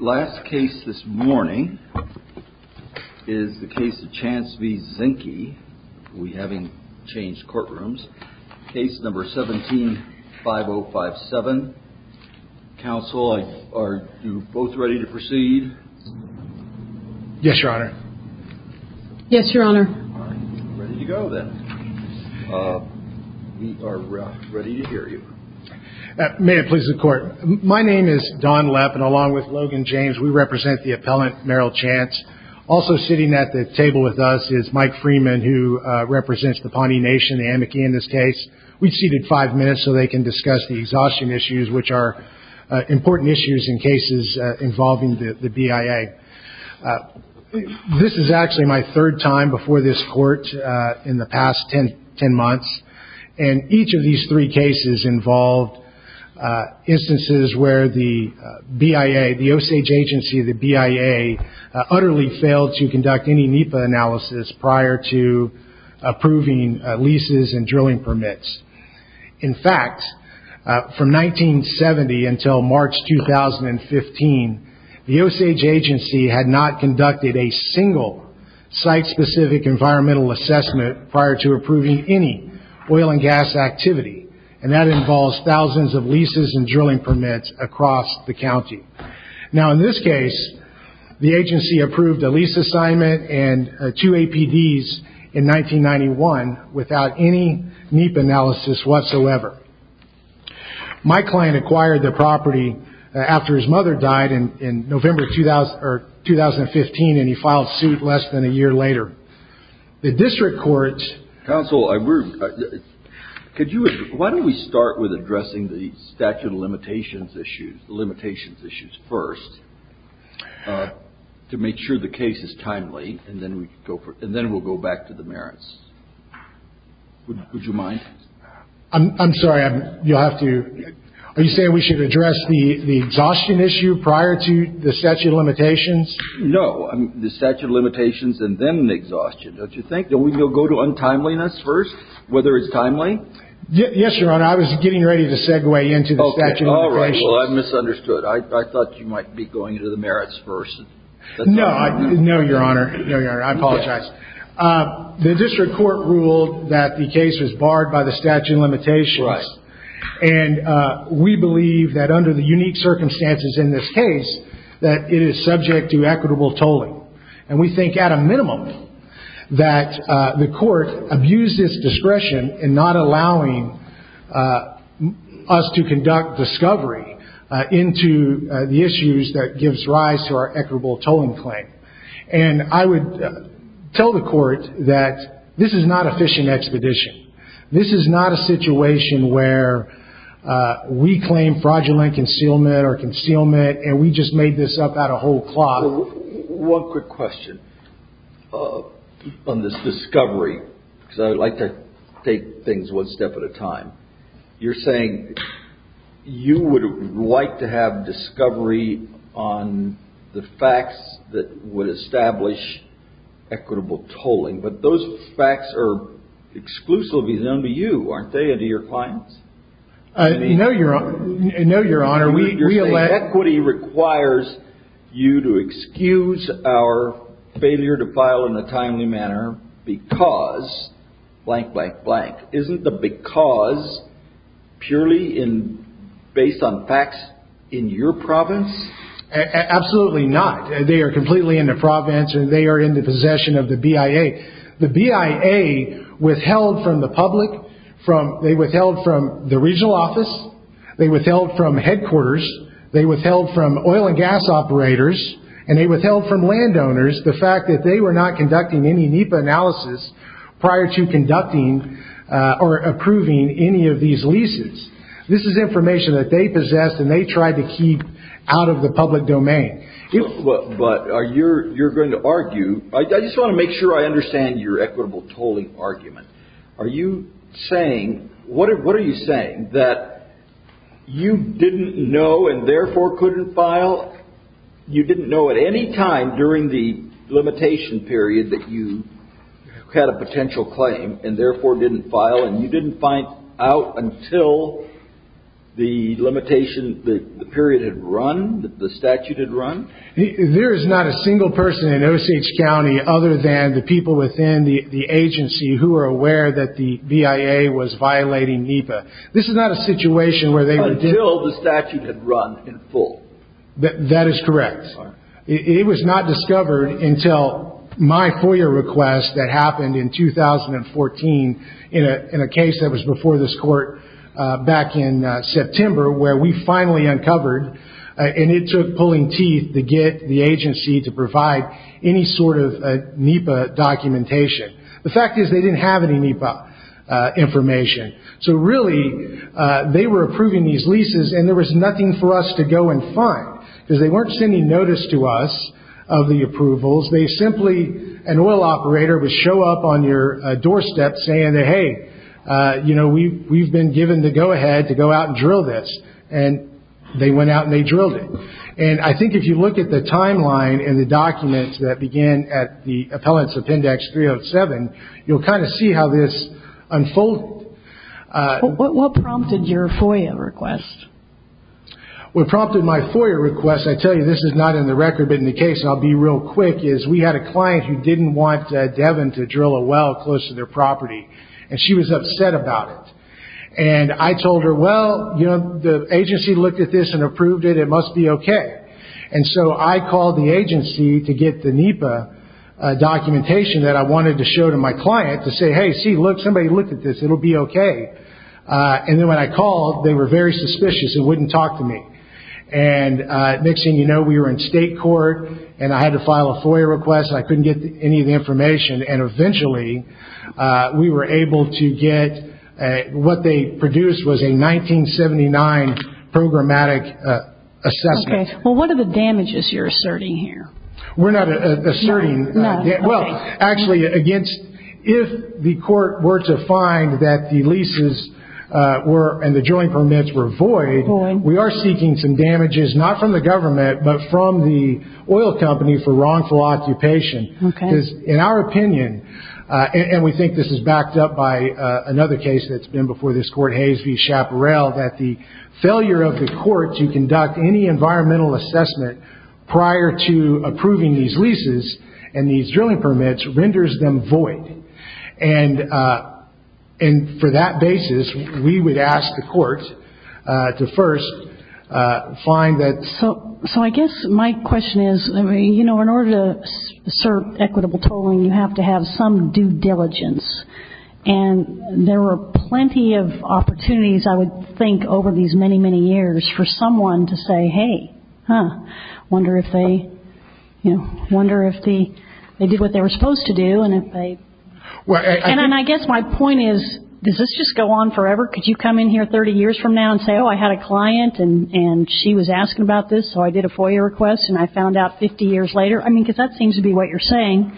Last case this morning is the case of Chance v. Zinke. We haven't changed courtrooms. Case number 17-5057. Counsel, are you both ready to proceed? Yes, Your Honor. Yes, Your Honor. Ready to go then. We are ready to hear you. May it please the Court. My name is Don Lepp, and along with Logan James, we represent the appellant, Merrill Chance. Also sitting at the table with us is Mike Freeman, who represents the Pawnee Nation, the Amici, in this case. We've seated five minutes so they can discuss the exhaustion issues, which are important issues in cases involving the BIA. This is actually my third time before this Court in the past ten months. And each of these three cases involved instances where the BIA, the Osage agency of the BIA, utterly failed to conduct any NEPA analysis prior to approving leases and drilling permits. In fact, from 1970 until March 2015, the Osage agency had not conducted a single site-specific environmental assessment prior to approving any oil and gas activity, and that involves thousands of leases and drilling permits across the county. Now, in this case, the agency approved a lease assignment and two APDs in 1991 without any NEPA analysis whatsoever. My client acquired the property after his mother died in November 2015, and he filed suit less than a year later. The district courts. Counsel, could you, why don't we start with addressing the statute of limitations issues, the limitations issues first, to make sure the case is timely, and then we'll go back to the merits. Would you mind? I'm sorry. You'll have to. Are you saying we should address the exhaustion issue prior to the statute of limitations? No. The statute of limitations and then the exhaustion, don't you think? Don't we go to untimeliness first, whether it's timely? Yes, Your Honor. I was getting ready to segue into the statute of limitations. All right. Well, I misunderstood. I thought you might be going into the merits first. No. No, Your Honor. No, Your Honor. I apologize. The district court ruled that the case was barred by the statute of limitations. Right. And we believe that under the unique circumstances in this case, that it is subject to equitable tolling. And we think at a minimum that the court abused its discretion in not allowing us to conduct discovery into the issues that gives rise to our equitable tolling claim. And I would tell the court that this is not a fishing expedition. This is not a situation where we claim fraudulent concealment or concealment and we just made this up at a whole clock. One quick question on this discovery, because I like to take things one step at a time. You're saying you would like to have discovery on the facts that would establish equitable tolling, but those facts are exclusively known to you, aren't they, and to your clients? No, Your Honor. You're saying equity requires you to excuse our failure to file in a timely manner because blank, blank, blank. Isn't the because purely based on facts in your province? Absolutely not. They are completely in the province and they are in the possession of the BIA. The BIA withheld from the public, they withheld from the regional office, they withheld from headquarters, they withheld from oil and gas operators, and they withheld from landowners the fact that they were not conducting any NEPA analysis prior to conducting or approving any of these leases. This is information that they possessed and they tried to keep out of the public domain. But you're going to argue, I just want to make sure I understand your equitable tolling argument. Are you saying, what are you saying, that you didn't know and therefore couldn't file? You didn't know at any time during the limitation period that you had a potential claim and therefore didn't file and you didn't find out until the limitation, the period had run, the statute had run? There is not a single person in Osage County other than the people within the agency who are aware that the BIA was violating NEPA. This is not a situation where they would- Until the statute had run in full. That is correct. It was not discovered until my FOIA request that happened in 2014 in a case that was before this court back in September where we finally uncovered and it took pulling teeth to get the agency to provide any sort of NEPA documentation. The fact is they didn't have any NEPA information. So really, they were approving these leases and there was nothing for us to go and find because they weren't sending notice to us of the approvals. They simply, an oil operator would show up on your doorstep saying that, hey, we've been given the go-ahead to go out and drill this. And they went out and they drilled it. And I think if you look at the timeline and the documents that began at the Appellants Appendix 307, you'll kind of see how this unfolded. What prompted your FOIA request? What prompted my FOIA request, I tell you this is not in the record but in the case, and I'll be real quick, is we had a client who didn't want Devin to drill a well close to their property, and she was upset about it. And I told her, well, you know, the agency looked at this and approved it. It must be okay. And so I called the agency to get the NEPA documentation that I wanted to show to my client to say, hey, see, look, somebody looked at this. It'll be okay. And then when I called, they were very suspicious and wouldn't talk to me. And it makes you know we were in state court and I had to file a FOIA request. I couldn't get any of the information. And eventually we were able to get what they produced was a 1979 programmatic assessment. Okay. Well, what are the damages you're asserting here? We're not asserting. No, okay. Well, actually, if the court were to find that the leases and the drilling permits were void, we are seeking some damages not from the government but from the oil company for wrongful occupation. Okay. Because in our opinion, and we think this is backed up by another case that's been before this court, Hayes v. Chaparral, that the failure of the court to conduct any environmental assessment prior to approving these leases and these drilling permits renders them void. And for that basis, we would ask the court to first find that. So I guess my question is, you know, in order to assert equitable tolling, you have to have some due diligence. And there were plenty of opportunities, I would think, over these many, many years for someone to say, hey, I wonder if they did what they were supposed to do. And I guess my point is, does this just go on forever? Could you come in here 30 years from now and say, oh, I had a client and she was asking about this, so I did a FOIA request and I found out 50 years later? I mean, because that seems to be what you're saying.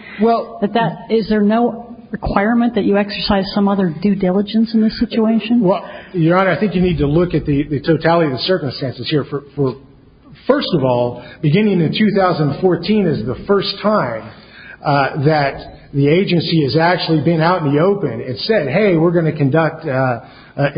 Is there no requirement that you exercise some other due diligence in this situation? Well, Your Honor, I think you need to look at the totality of the circumstances here. First of all, beginning in 2014 is the first time that the agency has actually been out in the open and said, hey, we're going to conduct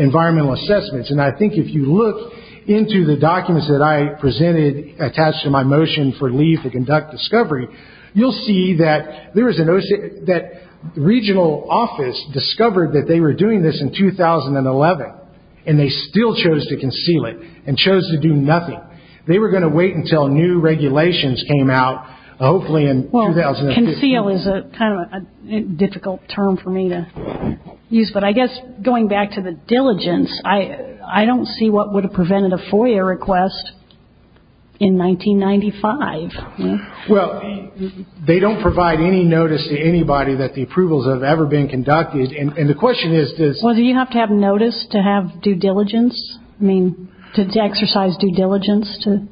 environmental assessments. And I think if you look into the documents that I presented attached to my motion for leave to conduct discovery, you'll see that the regional office discovered that they were doing this in 2011, and they still chose to conceal it and chose to do nothing. They were going to wait until new regulations came out, hopefully in 2015. Well, conceal is kind of a difficult term for me to use, but I guess going back to the diligence, I don't see what would have prevented a FOIA request in 1995. Well, they don't provide any notice to anybody that the approvals have ever been conducted. Well, do you have to have notice to exercise due diligence to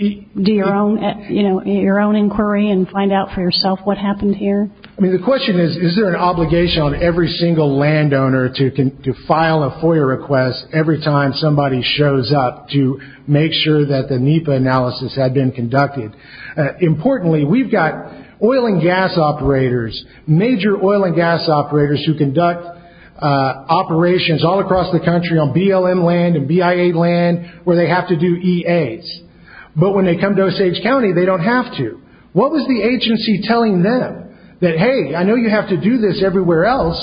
do your own inquiry and find out for yourself what happened here? I mean, the question is, is there an obligation on every single landowner to file a FOIA request every time somebody shows up to make sure that the NEPA analysis had been conducted? Importantly, we've got oil and gas operators, major oil and gas operators, who conduct operations all across the country on BLM land and BIA land where they have to do EAs. But when they come to Osage County, they don't have to. What was the agency telling them? That, hey, I know you have to do this everywhere else,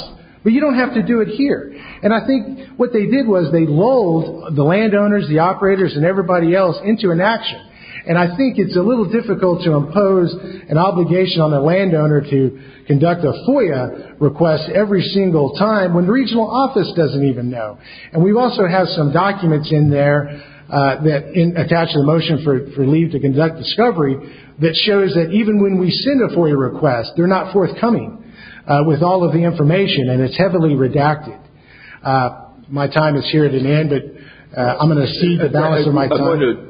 but you don't have to do it here. And I think what they did was they lulled the landowners, the operators, and everybody else into inaction. And I think it's a little difficult to impose an obligation on a landowner to conduct a FOIA request every single time when the regional office doesn't even know. And we also have some documents in there that attach the motion for leave to conduct discovery that shows that even when we send a FOIA request, they're not forthcoming with all of the information, and it's heavily redacted. My time is here at an end, but I'm going to cede the balance of my time.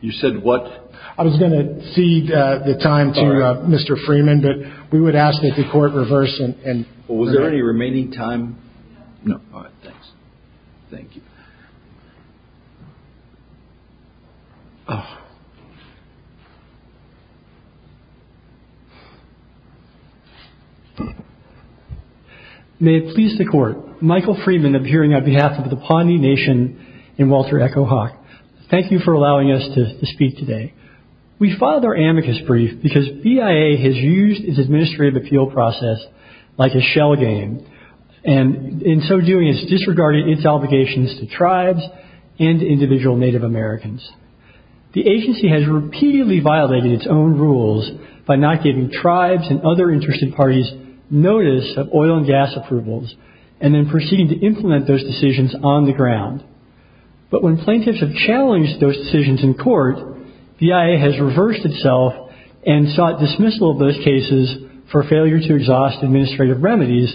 You said what? I was going to cede the time to Mr. Freeman, but we would ask that the court reverse and... Was there any remaining time? No. All right, thanks. Thank you. May it please the court. Michael Freeman, appearing on behalf of the Pawnee Nation and Walter Echo Hawk. Thank you for allowing us to speak today. We filed our amicus brief because BIA has used its administrative appeal process like a shell game and in so doing has disregarded its obligations to tribes and individual Native Americans. The agency has repeatedly violated its own rules by not giving tribes and other interested parties notice of oil and gas approvals and then proceeding to implement those decisions on the ground. But when plaintiffs have challenged those decisions in court, BIA has reversed itself and sought dismissal of those cases for failure to exhaust administrative remedies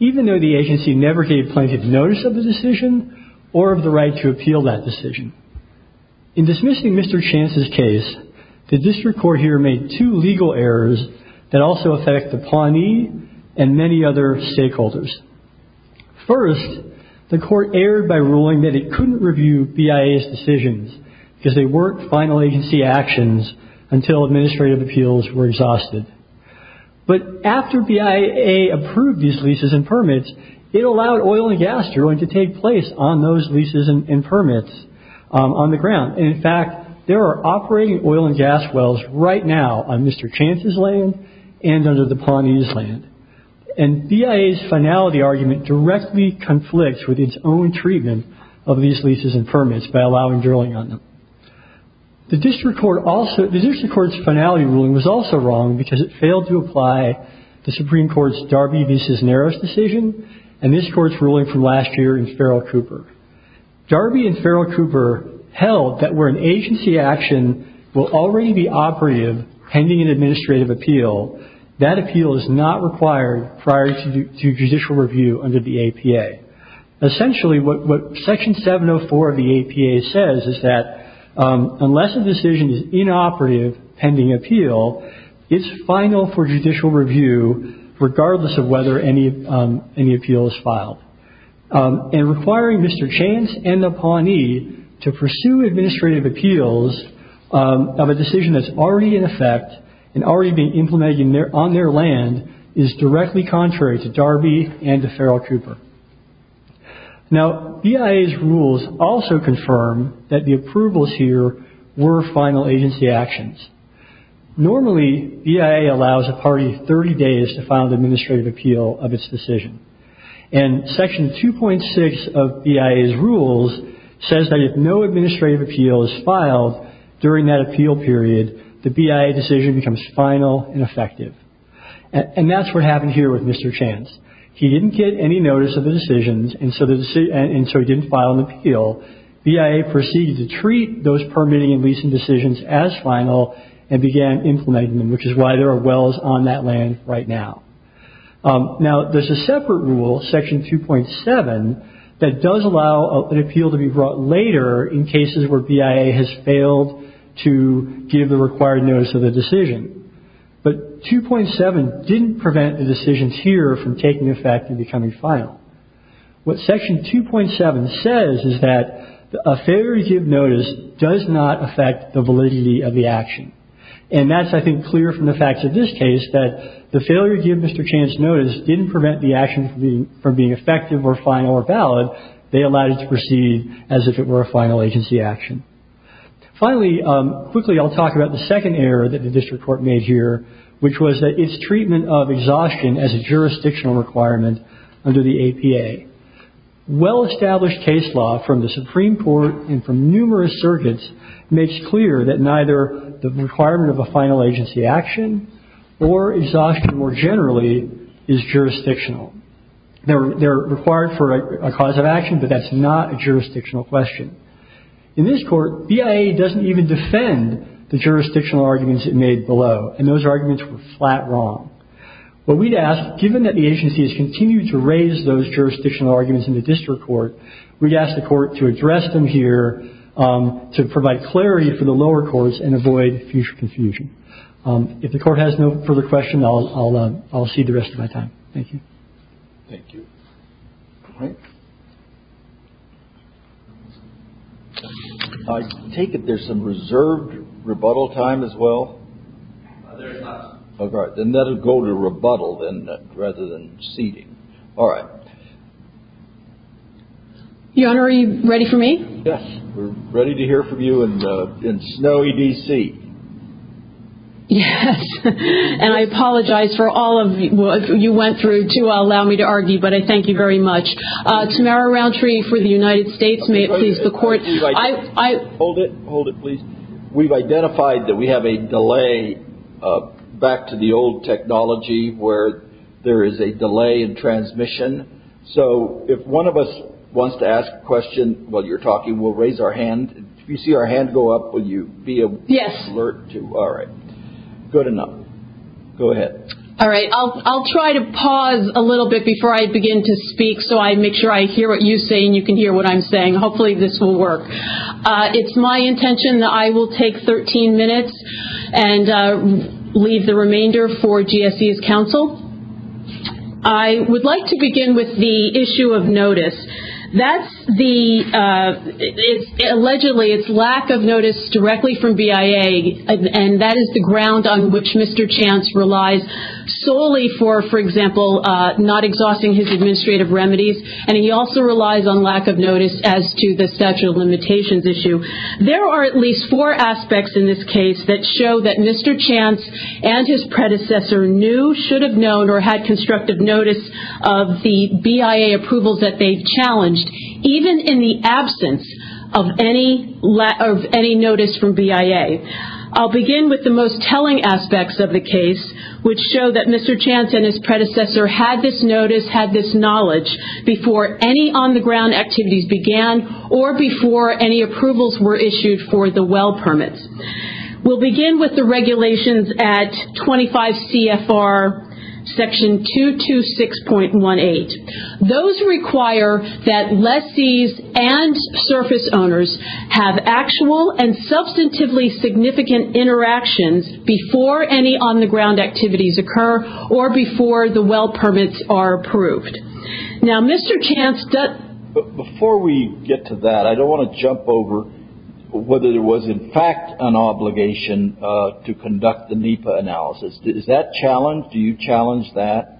even though the agency never gave plaintiffs notice of the decision or of the right to appeal that decision. In dismissing Mr. Chance's case, the district court here made two legal errors that also affect the Pawnee and many other stakeholders. First, the court erred by ruling that it couldn't review BIA's decisions because they weren't final agency actions until administrative appeals were exhausted. But after BIA approved these leases and permits, it allowed oil and gas drilling to take place on those leases and permits on the ground. In fact, there are operating oil and gas wells right now on Mr. Chance's land and under the Pawnee's land. And BIA's finality argument directly conflicts with its own treatment of these leases and permits by allowing drilling on them. The district court's finality ruling was also wrong because it failed to apply the Supreme Court's Darby v. Naros decision and this Court's ruling from last year in Farrell Cooper. Darby and Farrell Cooper held that where an agency action will already be operative pending an administrative appeal, that appeal is not required prior to judicial review under the APA. Essentially, what Section 704 of the APA says is that unless a decision is inoperative pending appeal, it's final for judicial review regardless of whether any appeal is filed. And requiring Mr. Chance and the Pawnee to pursue administrative appeals of a decision that's already in effect and already being implemented on their land is directly contrary to Darby and to Farrell Cooper. Now, BIA's rules also confirm that the approvals here were final agency actions. Normally, BIA allows a party 30 days to file an administrative appeal of its decision. And Section 2.6 of BIA's rules says that if no administrative appeal is filed during that appeal period, the BIA decision becomes final and effective. And that's what happened here with Mr. Chance. He didn't get any notice of the decisions and so he didn't file an appeal. BIA proceeded to treat those permitting and leasing decisions as final and began implementing them, which is why there are wells on that land right now. Now, there's a separate rule, Section 2.7, that does allow an appeal to be brought later in cases where BIA has failed to give the required notice of the decision. But 2.7 didn't prevent the decisions here from taking effect and becoming final. What Section 2.7 says is that a failure to give notice does not affect the validity of the action. And that's, I think, clear from the facts of this case, that the failure to give Mr. Chance notice didn't prevent the action from being effective or final or valid. They allowed it to proceed as if it were a final agency action. Finally, quickly, I'll talk about the second error that the district court made here, which was that its treatment of exhaustion as a jurisdictional requirement under the APA. Well-established case law from the Supreme Court and from numerous surrogates makes clear that neither the requirement of a final agency action or exhaustion more generally is jurisdictional. They're required for a cause of action, but that's not a jurisdictional question. In this court, BIA doesn't even defend the jurisdictional arguments it made below, and those arguments were flat wrong. What we'd ask, given that the agency has continued to raise those jurisdictional arguments in the district court, we'd ask the court to address them here to provide clarity for the lower courts and avoid future confusion. If the court has no further question, I'll cede the rest of my time. Thank you. Thank you. All right. I take it there's some reserved rebuttal time as well? There is not. All right. Then that'll go to rebuttal rather than ceding. All right. Your Honor, are you ready for me? Yes. We're ready to hear from you in snowy D.C. Yes. And I apologize for all of you went through to allow me to argue, but I thank you very much. Tamara Rountree for the United States. May it please the Court. Hold it. Hold it, please. We've identified that we have a delay back to the old technology where there is a delay in transmission. So if one of us wants to ask a question while you're talking, we'll raise our hand. If you see our hand go up, will you be able to alert to it? Yes. All right. Good enough. Go ahead. All right. I'll try to pause a little bit before I begin to speak so I make sure I hear what you say and you can hear what I'm saying. Hopefully this will work. It's my intention that I will take 13 minutes and leave the remainder for GSE's counsel. I would like to begin with the issue of notice. That's the ‑‑ allegedly it's lack of notice directly from BIA, and that is the ground on which Mr. Chance relies solely for, for example, not exhausting his administrative remedies, and he also relies on lack of notice as to the statute of limitations issue. There are at least four aspects in this case that show that Mr. Chance and his predecessor knew, should have known, or had constructive notice of the BIA approvals that they've challenged, even in the absence of any notice from BIA. I'll begin with the most telling aspects of the case, which show that Mr. Chance and his predecessor had this notice, had this knowledge before any on‑the‑ground activities began or before any approvals were issued for the well permits. We'll begin with the regulations at 25 CFR section 226.18. Those require that lessees and surface owners have actual and substantively significant interactions before any on‑the‑ground activities occur or before the well permits are approved. Now, Mr. Chance ‑‑ Before we get to that, I don't want to jump over whether there was, in fact, an obligation to conduct the NEPA analysis. Is that challenged? Do you challenge that?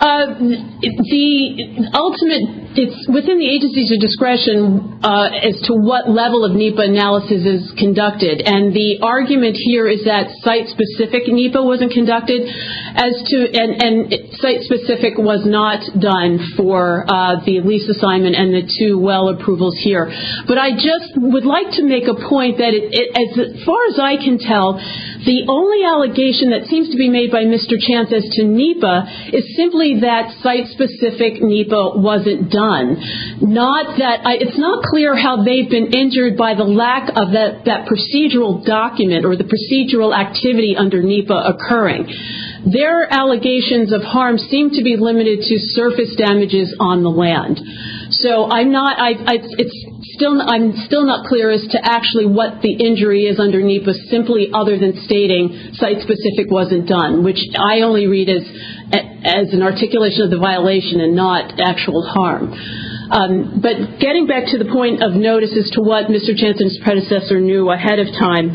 The ultimate, it's within the agency's discretion as to what level of NEPA analysis is conducted. And the argument here is that site-specific NEPA wasn't conducted and site-specific was not done for the lease assignment and the two well approvals here. But I just would like to make a point that, as far as I can tell, the only allegation that seems to be made by Mr. Chance as to NEPA is simply that site-specific NEPA wasn't done. It's not clear how they've been injured by the lack of that procedural document or the procedural activity under NEPA occurring. Their allegations of harm seem to be limited to surface damages on the land. So I'm still not clear as to actually what the injury is under NEPA simply other than stating site-specific wasn't done, which I only read as an articulation of the violation and not actual harm. But getting back to the point of notice as to what Mr. Chance and his predecessor knew ahead of time,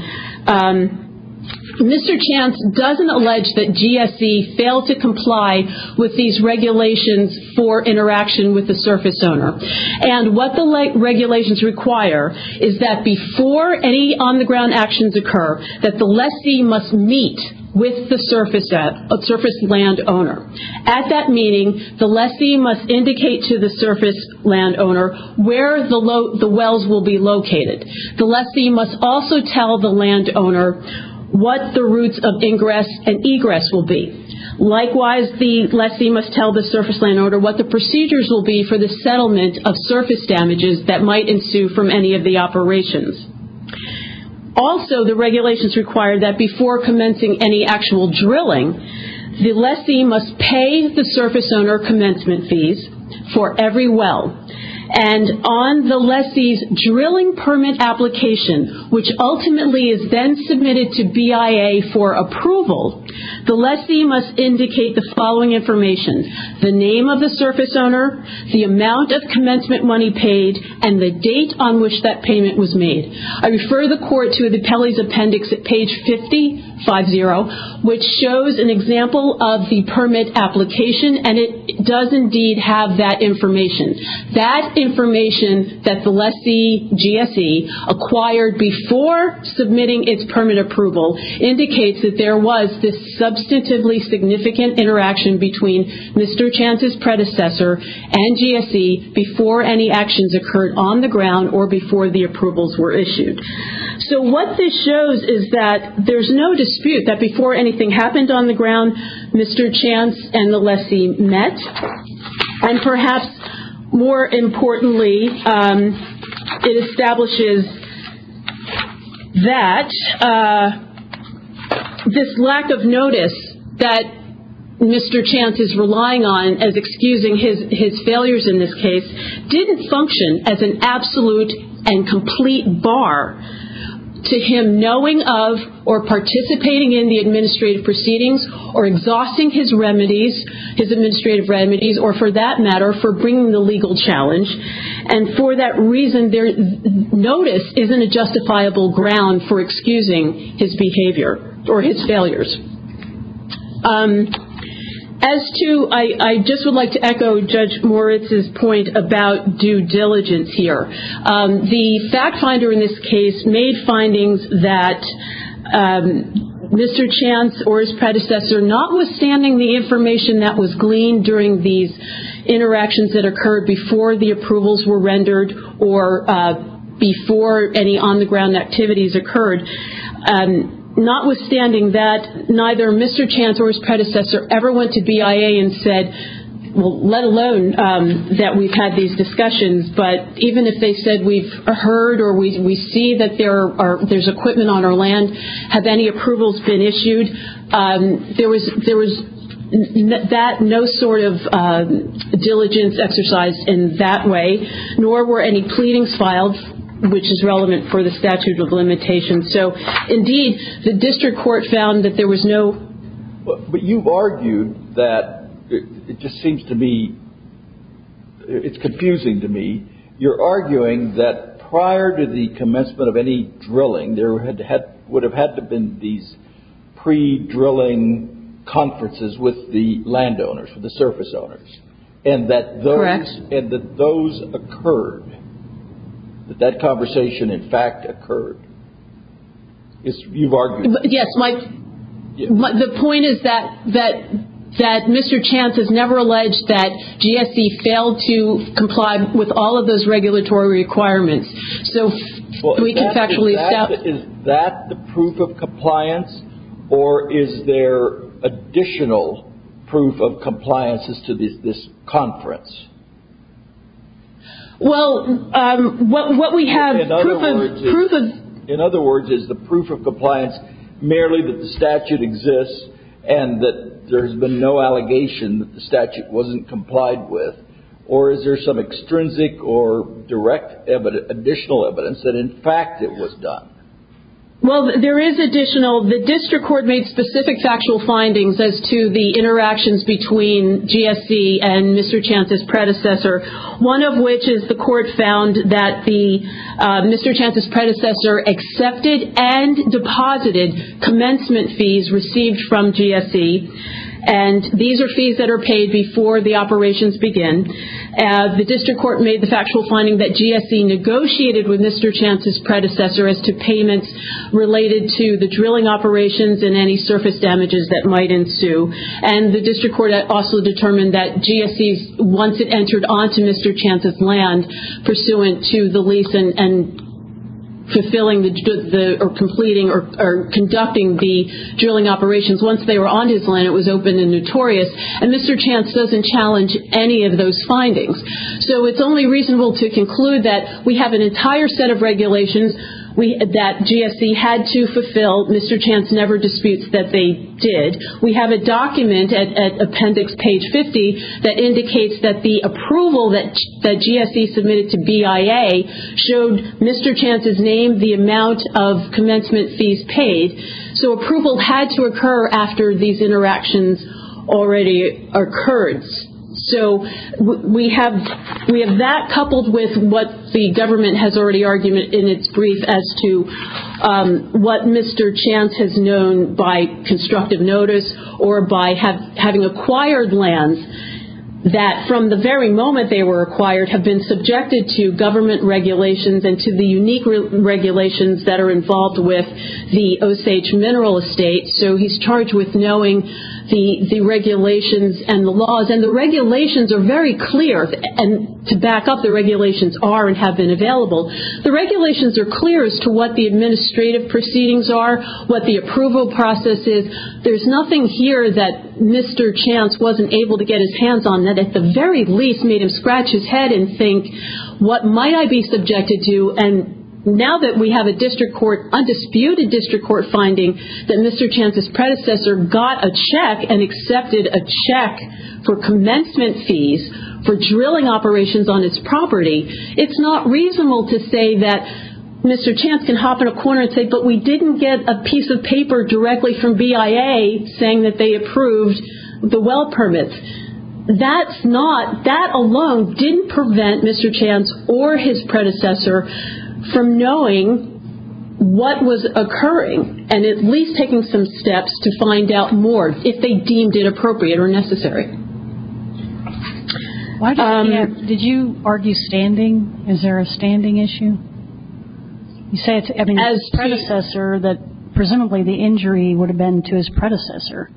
Mr. Chance doesn't allege that GSE failed to comply with these regulations for interaction with the surface owner. And what the regulations require is that before any on-the-ground actions occur, that the lessee must meet with the surface land owner. At that meeting, the lessee must indicate to the surface land owner where the wells will be located. The lessee must also tell the land owner what the routes of ingress and egress will be. Likewise, the lessee must tell the surface land owner what the procedures will be for the settlement of surface damages that might ensue from any of the operations. Also, the regulations require that before commencing any actual drilling, the lessee must pay the surface owner commencement fees for every well. And on the lessee's drilling permit application, which ultimately is then submitted to BIA for approval, the lessee must indicate the following information, the name of the surface owner, the amount of commencement money paid, and the date on which that payment was made. I refer the Court to the Pelley's Appendix at page 5050, which shows an example of the permit application, and it does indeed have that information. That information that the lessee, GSE, acquired before submitting its permit approval indicates that there was this substantively significant interaction between Mr. Chance's predecessor and GSE before any actions occurred on the ground or before the approvals were issued. So what this shows is that there's no dispute that before anything happened on the ground, Mr. Chance and the lessee met. And perhaps more importantly, it establishes that this lack of notice that Mr. Chance is relying on as excusing his failures in this case didn't function as an absolute and complete bar to him knowing of or participating in the administrative proceedings or exhausting his remedies, his administrative remedies, or for that matter, for bringing the legal challenge. And for that reason, notice isn't a justifiable ground for excusing his behavior or his failures. As to, I just would like to echo Judge Moritz's point about due diligence here. The fact finder in this case made findings that Mr. Chance or his predecessor, notwithstanding the information that was gleaned during these interactions that occurred before the approvals were rendered or before any on-the-ground activities occurred, notwithstanding that neither Mr. Chance or his predecessor ever went to BIA and said, well, let alone that we've had these discussions, but even if they said we've heard or we see that there's equipment on our land, have any approvals been issued, there was no sort of diligence exercised in that way, nor were any pleadings filed, which is relevant for the statute of limitations. So, indeed, the district court found that there was no. But you've argued that it just seems to me, it's confusing to me, you're arguing that prior to the commencement of any drilling, there would have had to have been these pre-drilling conferences with the landowners, with the surface owners, and that those occurred, that that conversation in fact occurred. You've argued that. Yes. The point is that Mr. Chance has never alleged that GSE failed to comply with all of those regulatory requirements. Is that the proof of compliance, or is there additional proof of compliance as to this conference? Well, what we have, proof of In other words, is the proof of compliance merely that the statute exists and that there's been no allegation that the statute wasn't complied with, or is there some extrinsic or direct additional evidence that, in fact, it was done? Well, there is additional. Well, the district court made specific factual findings as to the interactions between GSE and Mr. Chance's predecessor, one of which is the court found that Mr. Chance's predecessor accepted and deposited commencement fees received from GSE, and these are fees that are paid before the operations begin. The district court made the factual finding that GSE negotiated with Mr. Chance's predecessor as to payments related to the drilling operations and any surface damages that might ensue, and the district court also determined that GSE, once it entered onto Mr. Chance's land, pursuant to the lease and fulfilling or completing or conducting the drilling operations, once they were onto his land, it was open and notorious, and Mr. Chance doesn't challenge any of those findings. So it's only reasonable to conclude that we have an entire set of regulations that GSE had to fulfill. Mr. Chance never disputes that they did. We have a document at appendix page 50 that indicates that the approval that GSE submitted to BIA showed Mr. Chance's name the amount of commencement fees paid. So approval had to occur after these interactions already occurred. So we have that coupled with what the government has already argued in its brief as to what Mr. Chance has known by constructive notice or by having acquired lands that from the very moment they were acquired have been subjected to government regulations and to the unique regulations that are involved with the Osage Mineral Estate. So he's charged with knowing the regulations and the laws. And the regulations are very clear. And to back up, the regulations are and have been available. The regulations are clear as to what the administrative proceedings are, what the approval process is. There's nothing here that Mr. Chance wasn't able to get his hands on that at the very least made him scratch his head and think, what might I be subjected to? And now that we have a disputed district court finding that Mr. Chance's predecessor got a check and accepted a check for commencement fees for drilling operations on its property, it's not reasonable to say that Mr. Chance can hop in a corner and say, but we didn't get a piece of paper directly from BIA saying that they approved the well permit. That's not, that alone didn't prevent Mr. Chance or his predecessor from knowing what was occurring and at least taking some steps to find out more if they deemed it appropriate or necessary. Did you argue standing? Is there a standing issue? You say it to everyone's predecessor that presumably the injury would have been to his predecessor.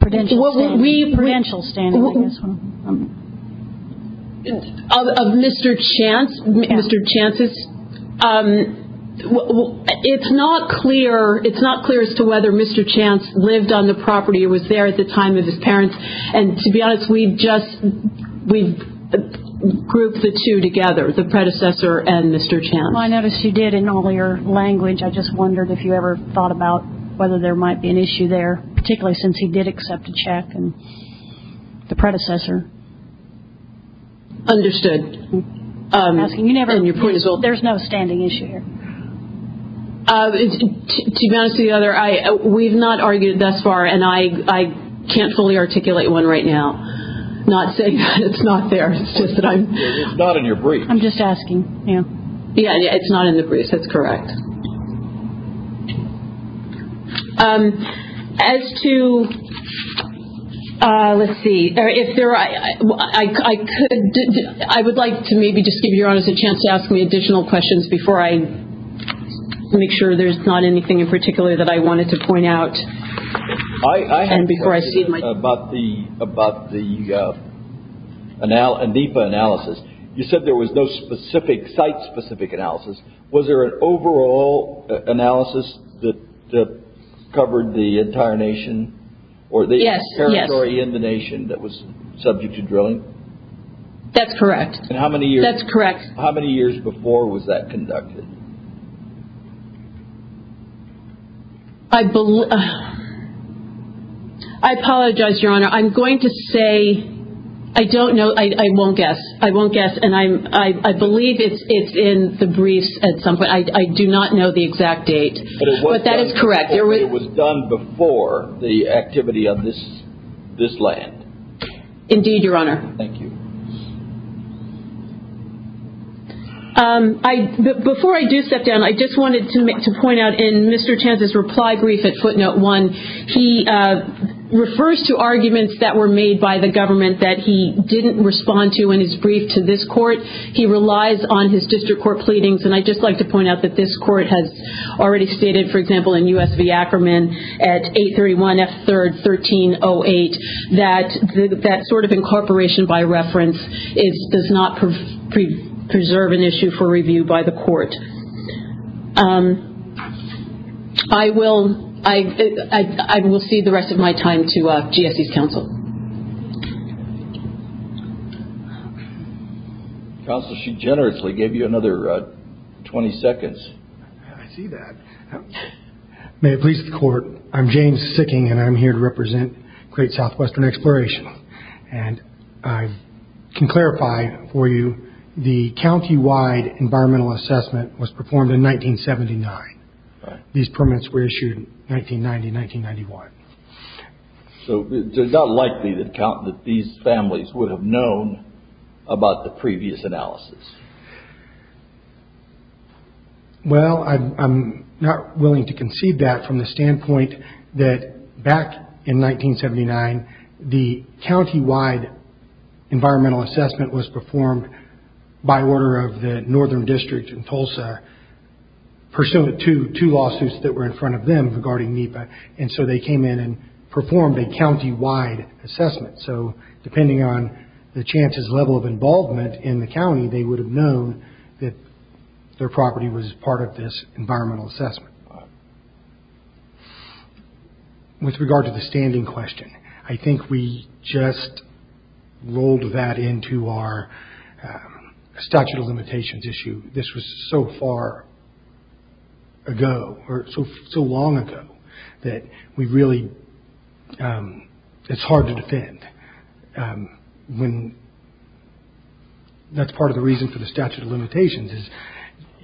Prudential standing, I guess. Of Mr. Chance, Mr. Chance's. It's not clear, it's not clear as to whether Mr. Chance lived on the property or was there at the time of his parents. And to be honest, we just, we grouped the two together, the predecessor and Mr. Chance. Well, I noticed you did in all your language. I just wondered if you ever thought about whether there might be an issue there, particularly since he did accept a check and the predecessor. Understood. You never, there's no standing issue here. To be honest with you, we've not argued it thus far, and I can't fully articulate one right now. Not saying that it's not there, it's just that I'm. It's not in your brief. I'm just asking. Yeah, it's not in the brief, that's correct. As to, let's see, if there are, I would like to maybe just give your Mr. Chance to ask me additional questions before I make sure there's not anything in particular that I wanted to point out. And before I cede my. I have a question about the ANDIPA analysis. You said there was no specific, site-specific analysis. Was there an overall analysis that covered the entire nation? Yes, yes. Or the territory in the nation that was subject to drilling? That's correct. And how many years. That's correct. How many years before was that conducted? I apologize, Your Honor. I'm going to say, I don't know, I won't guess, I won't guess. And I believe it's in the briefs at some point. I do not know the exact date. But that is correct. It was done before the activity of this land. Indeed, Your Honor. Thank you. Before I do step down, I just wanted to point out in Mr. Chance's reply brief at footnote one, he refers to arguments that were made by the government that he didn't respond to in his brief to this court. He relies on his district court pleadings. And I'd just like to point out that this court has already stated, for example, in U.S. v. Ackerman at 831 F. 3rd, 1308, that that sort of incorporation by reference does not preserve an issue for review by the court. I will cede the rest of my time to GSE's counsel. Counsel, she generously gave you another 20 seconds. I see that. May it please the court, I'm James Sicking, and I'm here to represent Great Southwestern Exploration. And I can clarify for you, the countywide environmental assessment was performed in 1979. These permits were issued in 1990, 1991. So it's not likely that these families would have known about the previous analysis. Well, I'm not willing to concede that from the standpoint that back in 1979, the countywide environmental assessment was performed by order of the northern district in Tulsa, pursuant to two lawsuits that were in front of them regarding NEPA. And so they came in and performed a countywide assessment. So depending on the chances level of involvement in the county, they would have known that their property was part of this environmental assessment. With regard to the standing question, I think we just rolled that into our statute of limitations issue. This was so far ago, or so long ago, that we really, it's hard to defend. That's part of the reason for the statute of limitations, is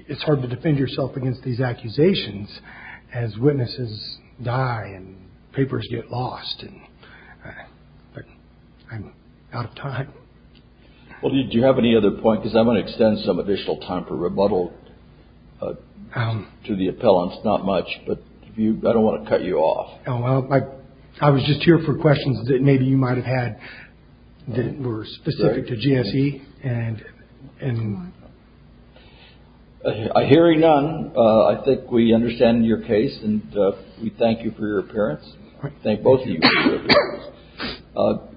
it's hard to defend yourself against these accusations as witnesses die and papers get lost. But I'm out of time. Well, do you have any other point? Because I want to extend some additional time for rebuttal to the appellants. Not much, but I don't want to cut you off. I was just here for questions that maybe you might have had that were specific to GSE. A hearing none. I think we understand your case and we thank you for your appearance. Thank both of you.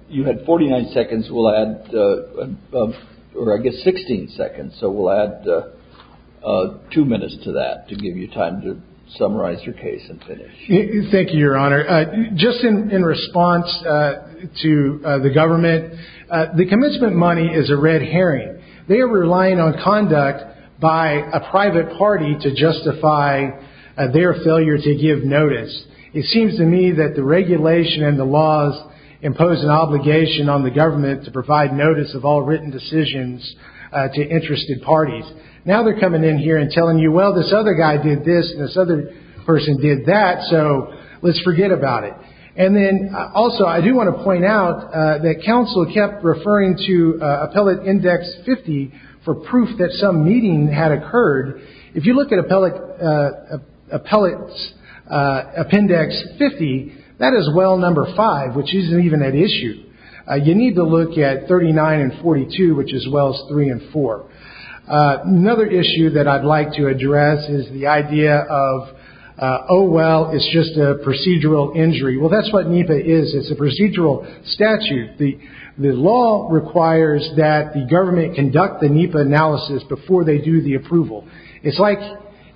You had 49 seconds. We'll add, or I guess 16 seconds. So we'll add two minutes to that to give you time to summarize your case and finish. Thank you, Your Honor. Just in response to the government, the commencement money is a red herring. They are relying on conduct by a private party to justify their failure to give notice. It seems to me that the regulation and the laws impose an obligation on the government to provide notice of all written decisions to interested parties. Now they're coming in here and telling you, well, this other guy did this and this other person did that, so let's forget about it. And then also I do want to point out that counsel kept referring to appellate index 50 for proof that some meeting had occurred. If you look at appellate appendix 50, that is well number five, which isn't even an issue. You need to look at 39 and 42, which is wells three and four. Another issue that I'd like to address is the idea of, oh, well, it's just a procedural injury. Well, that's what NEPA is. It's a procedural statute. The law requires that the government conduct the NEPA analysis before they do the approval. It's like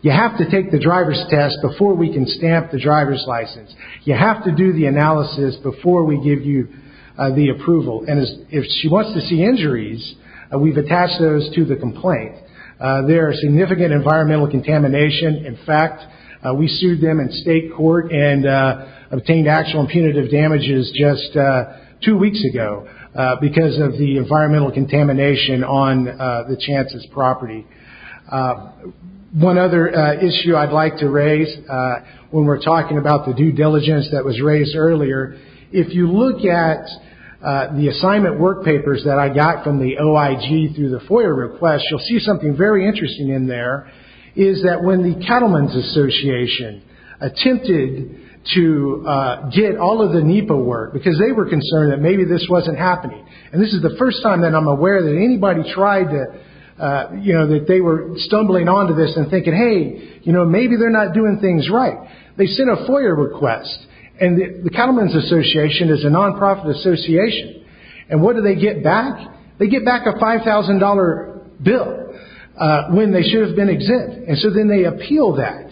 you have to take the driver's test before we can stamp the driver's license. You have to do the analysis before we give you the approval. And if she wants to see injuries, we've attached those to the complaint. There are significant environmental contamination. In fact, we sued them in state court and obtained actual punitive damages just two weeks ago because of the environmental contamination on the chances property. One other issue I'd like to raise when we're talking about the due diligence that was raised earlier, if you look at the assignment work papers that I got from the OIG through the FOIA request, you'll see something very interesting in there, is that when the Cattlemen's Association attempted to get all of the NEPA work, because they were concerned that maybe this wasn't happening, and this is the first time that I'm aware that anybody tried to, you know, that they were stumbling onto this and thinking, hey, you know, maybe they're not doing things right. They sent a FOIA request, and the Cattlemen's Association is a non-profit association. And what do they get back? They get back a $5,000 bill when they should have been exempt. And so then they appeal that.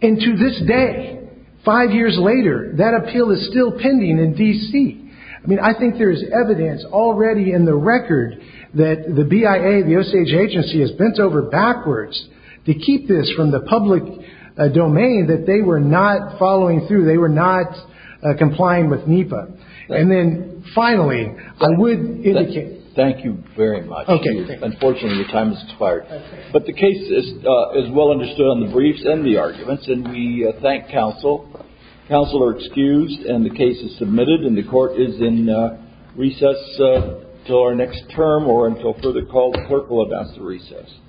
And to this day, five years later, that appeal is still pending in D.C. I mean, I think there is evidence already in the record that the BIA, the OSAGE agency, has bent over backwards to keep this from the public domain that they were not following through. They were not complying with NEPA. And then finally, I would indicate. Thank you very much. Okay. Unfortunately, your time has expired. Okay. But the case is well understood on the briefs and the arguments, and we thank counsel. Counsel are excused, and the case is submitted, and the Court is in recess until our next term or until further call. The Court will advance the recess.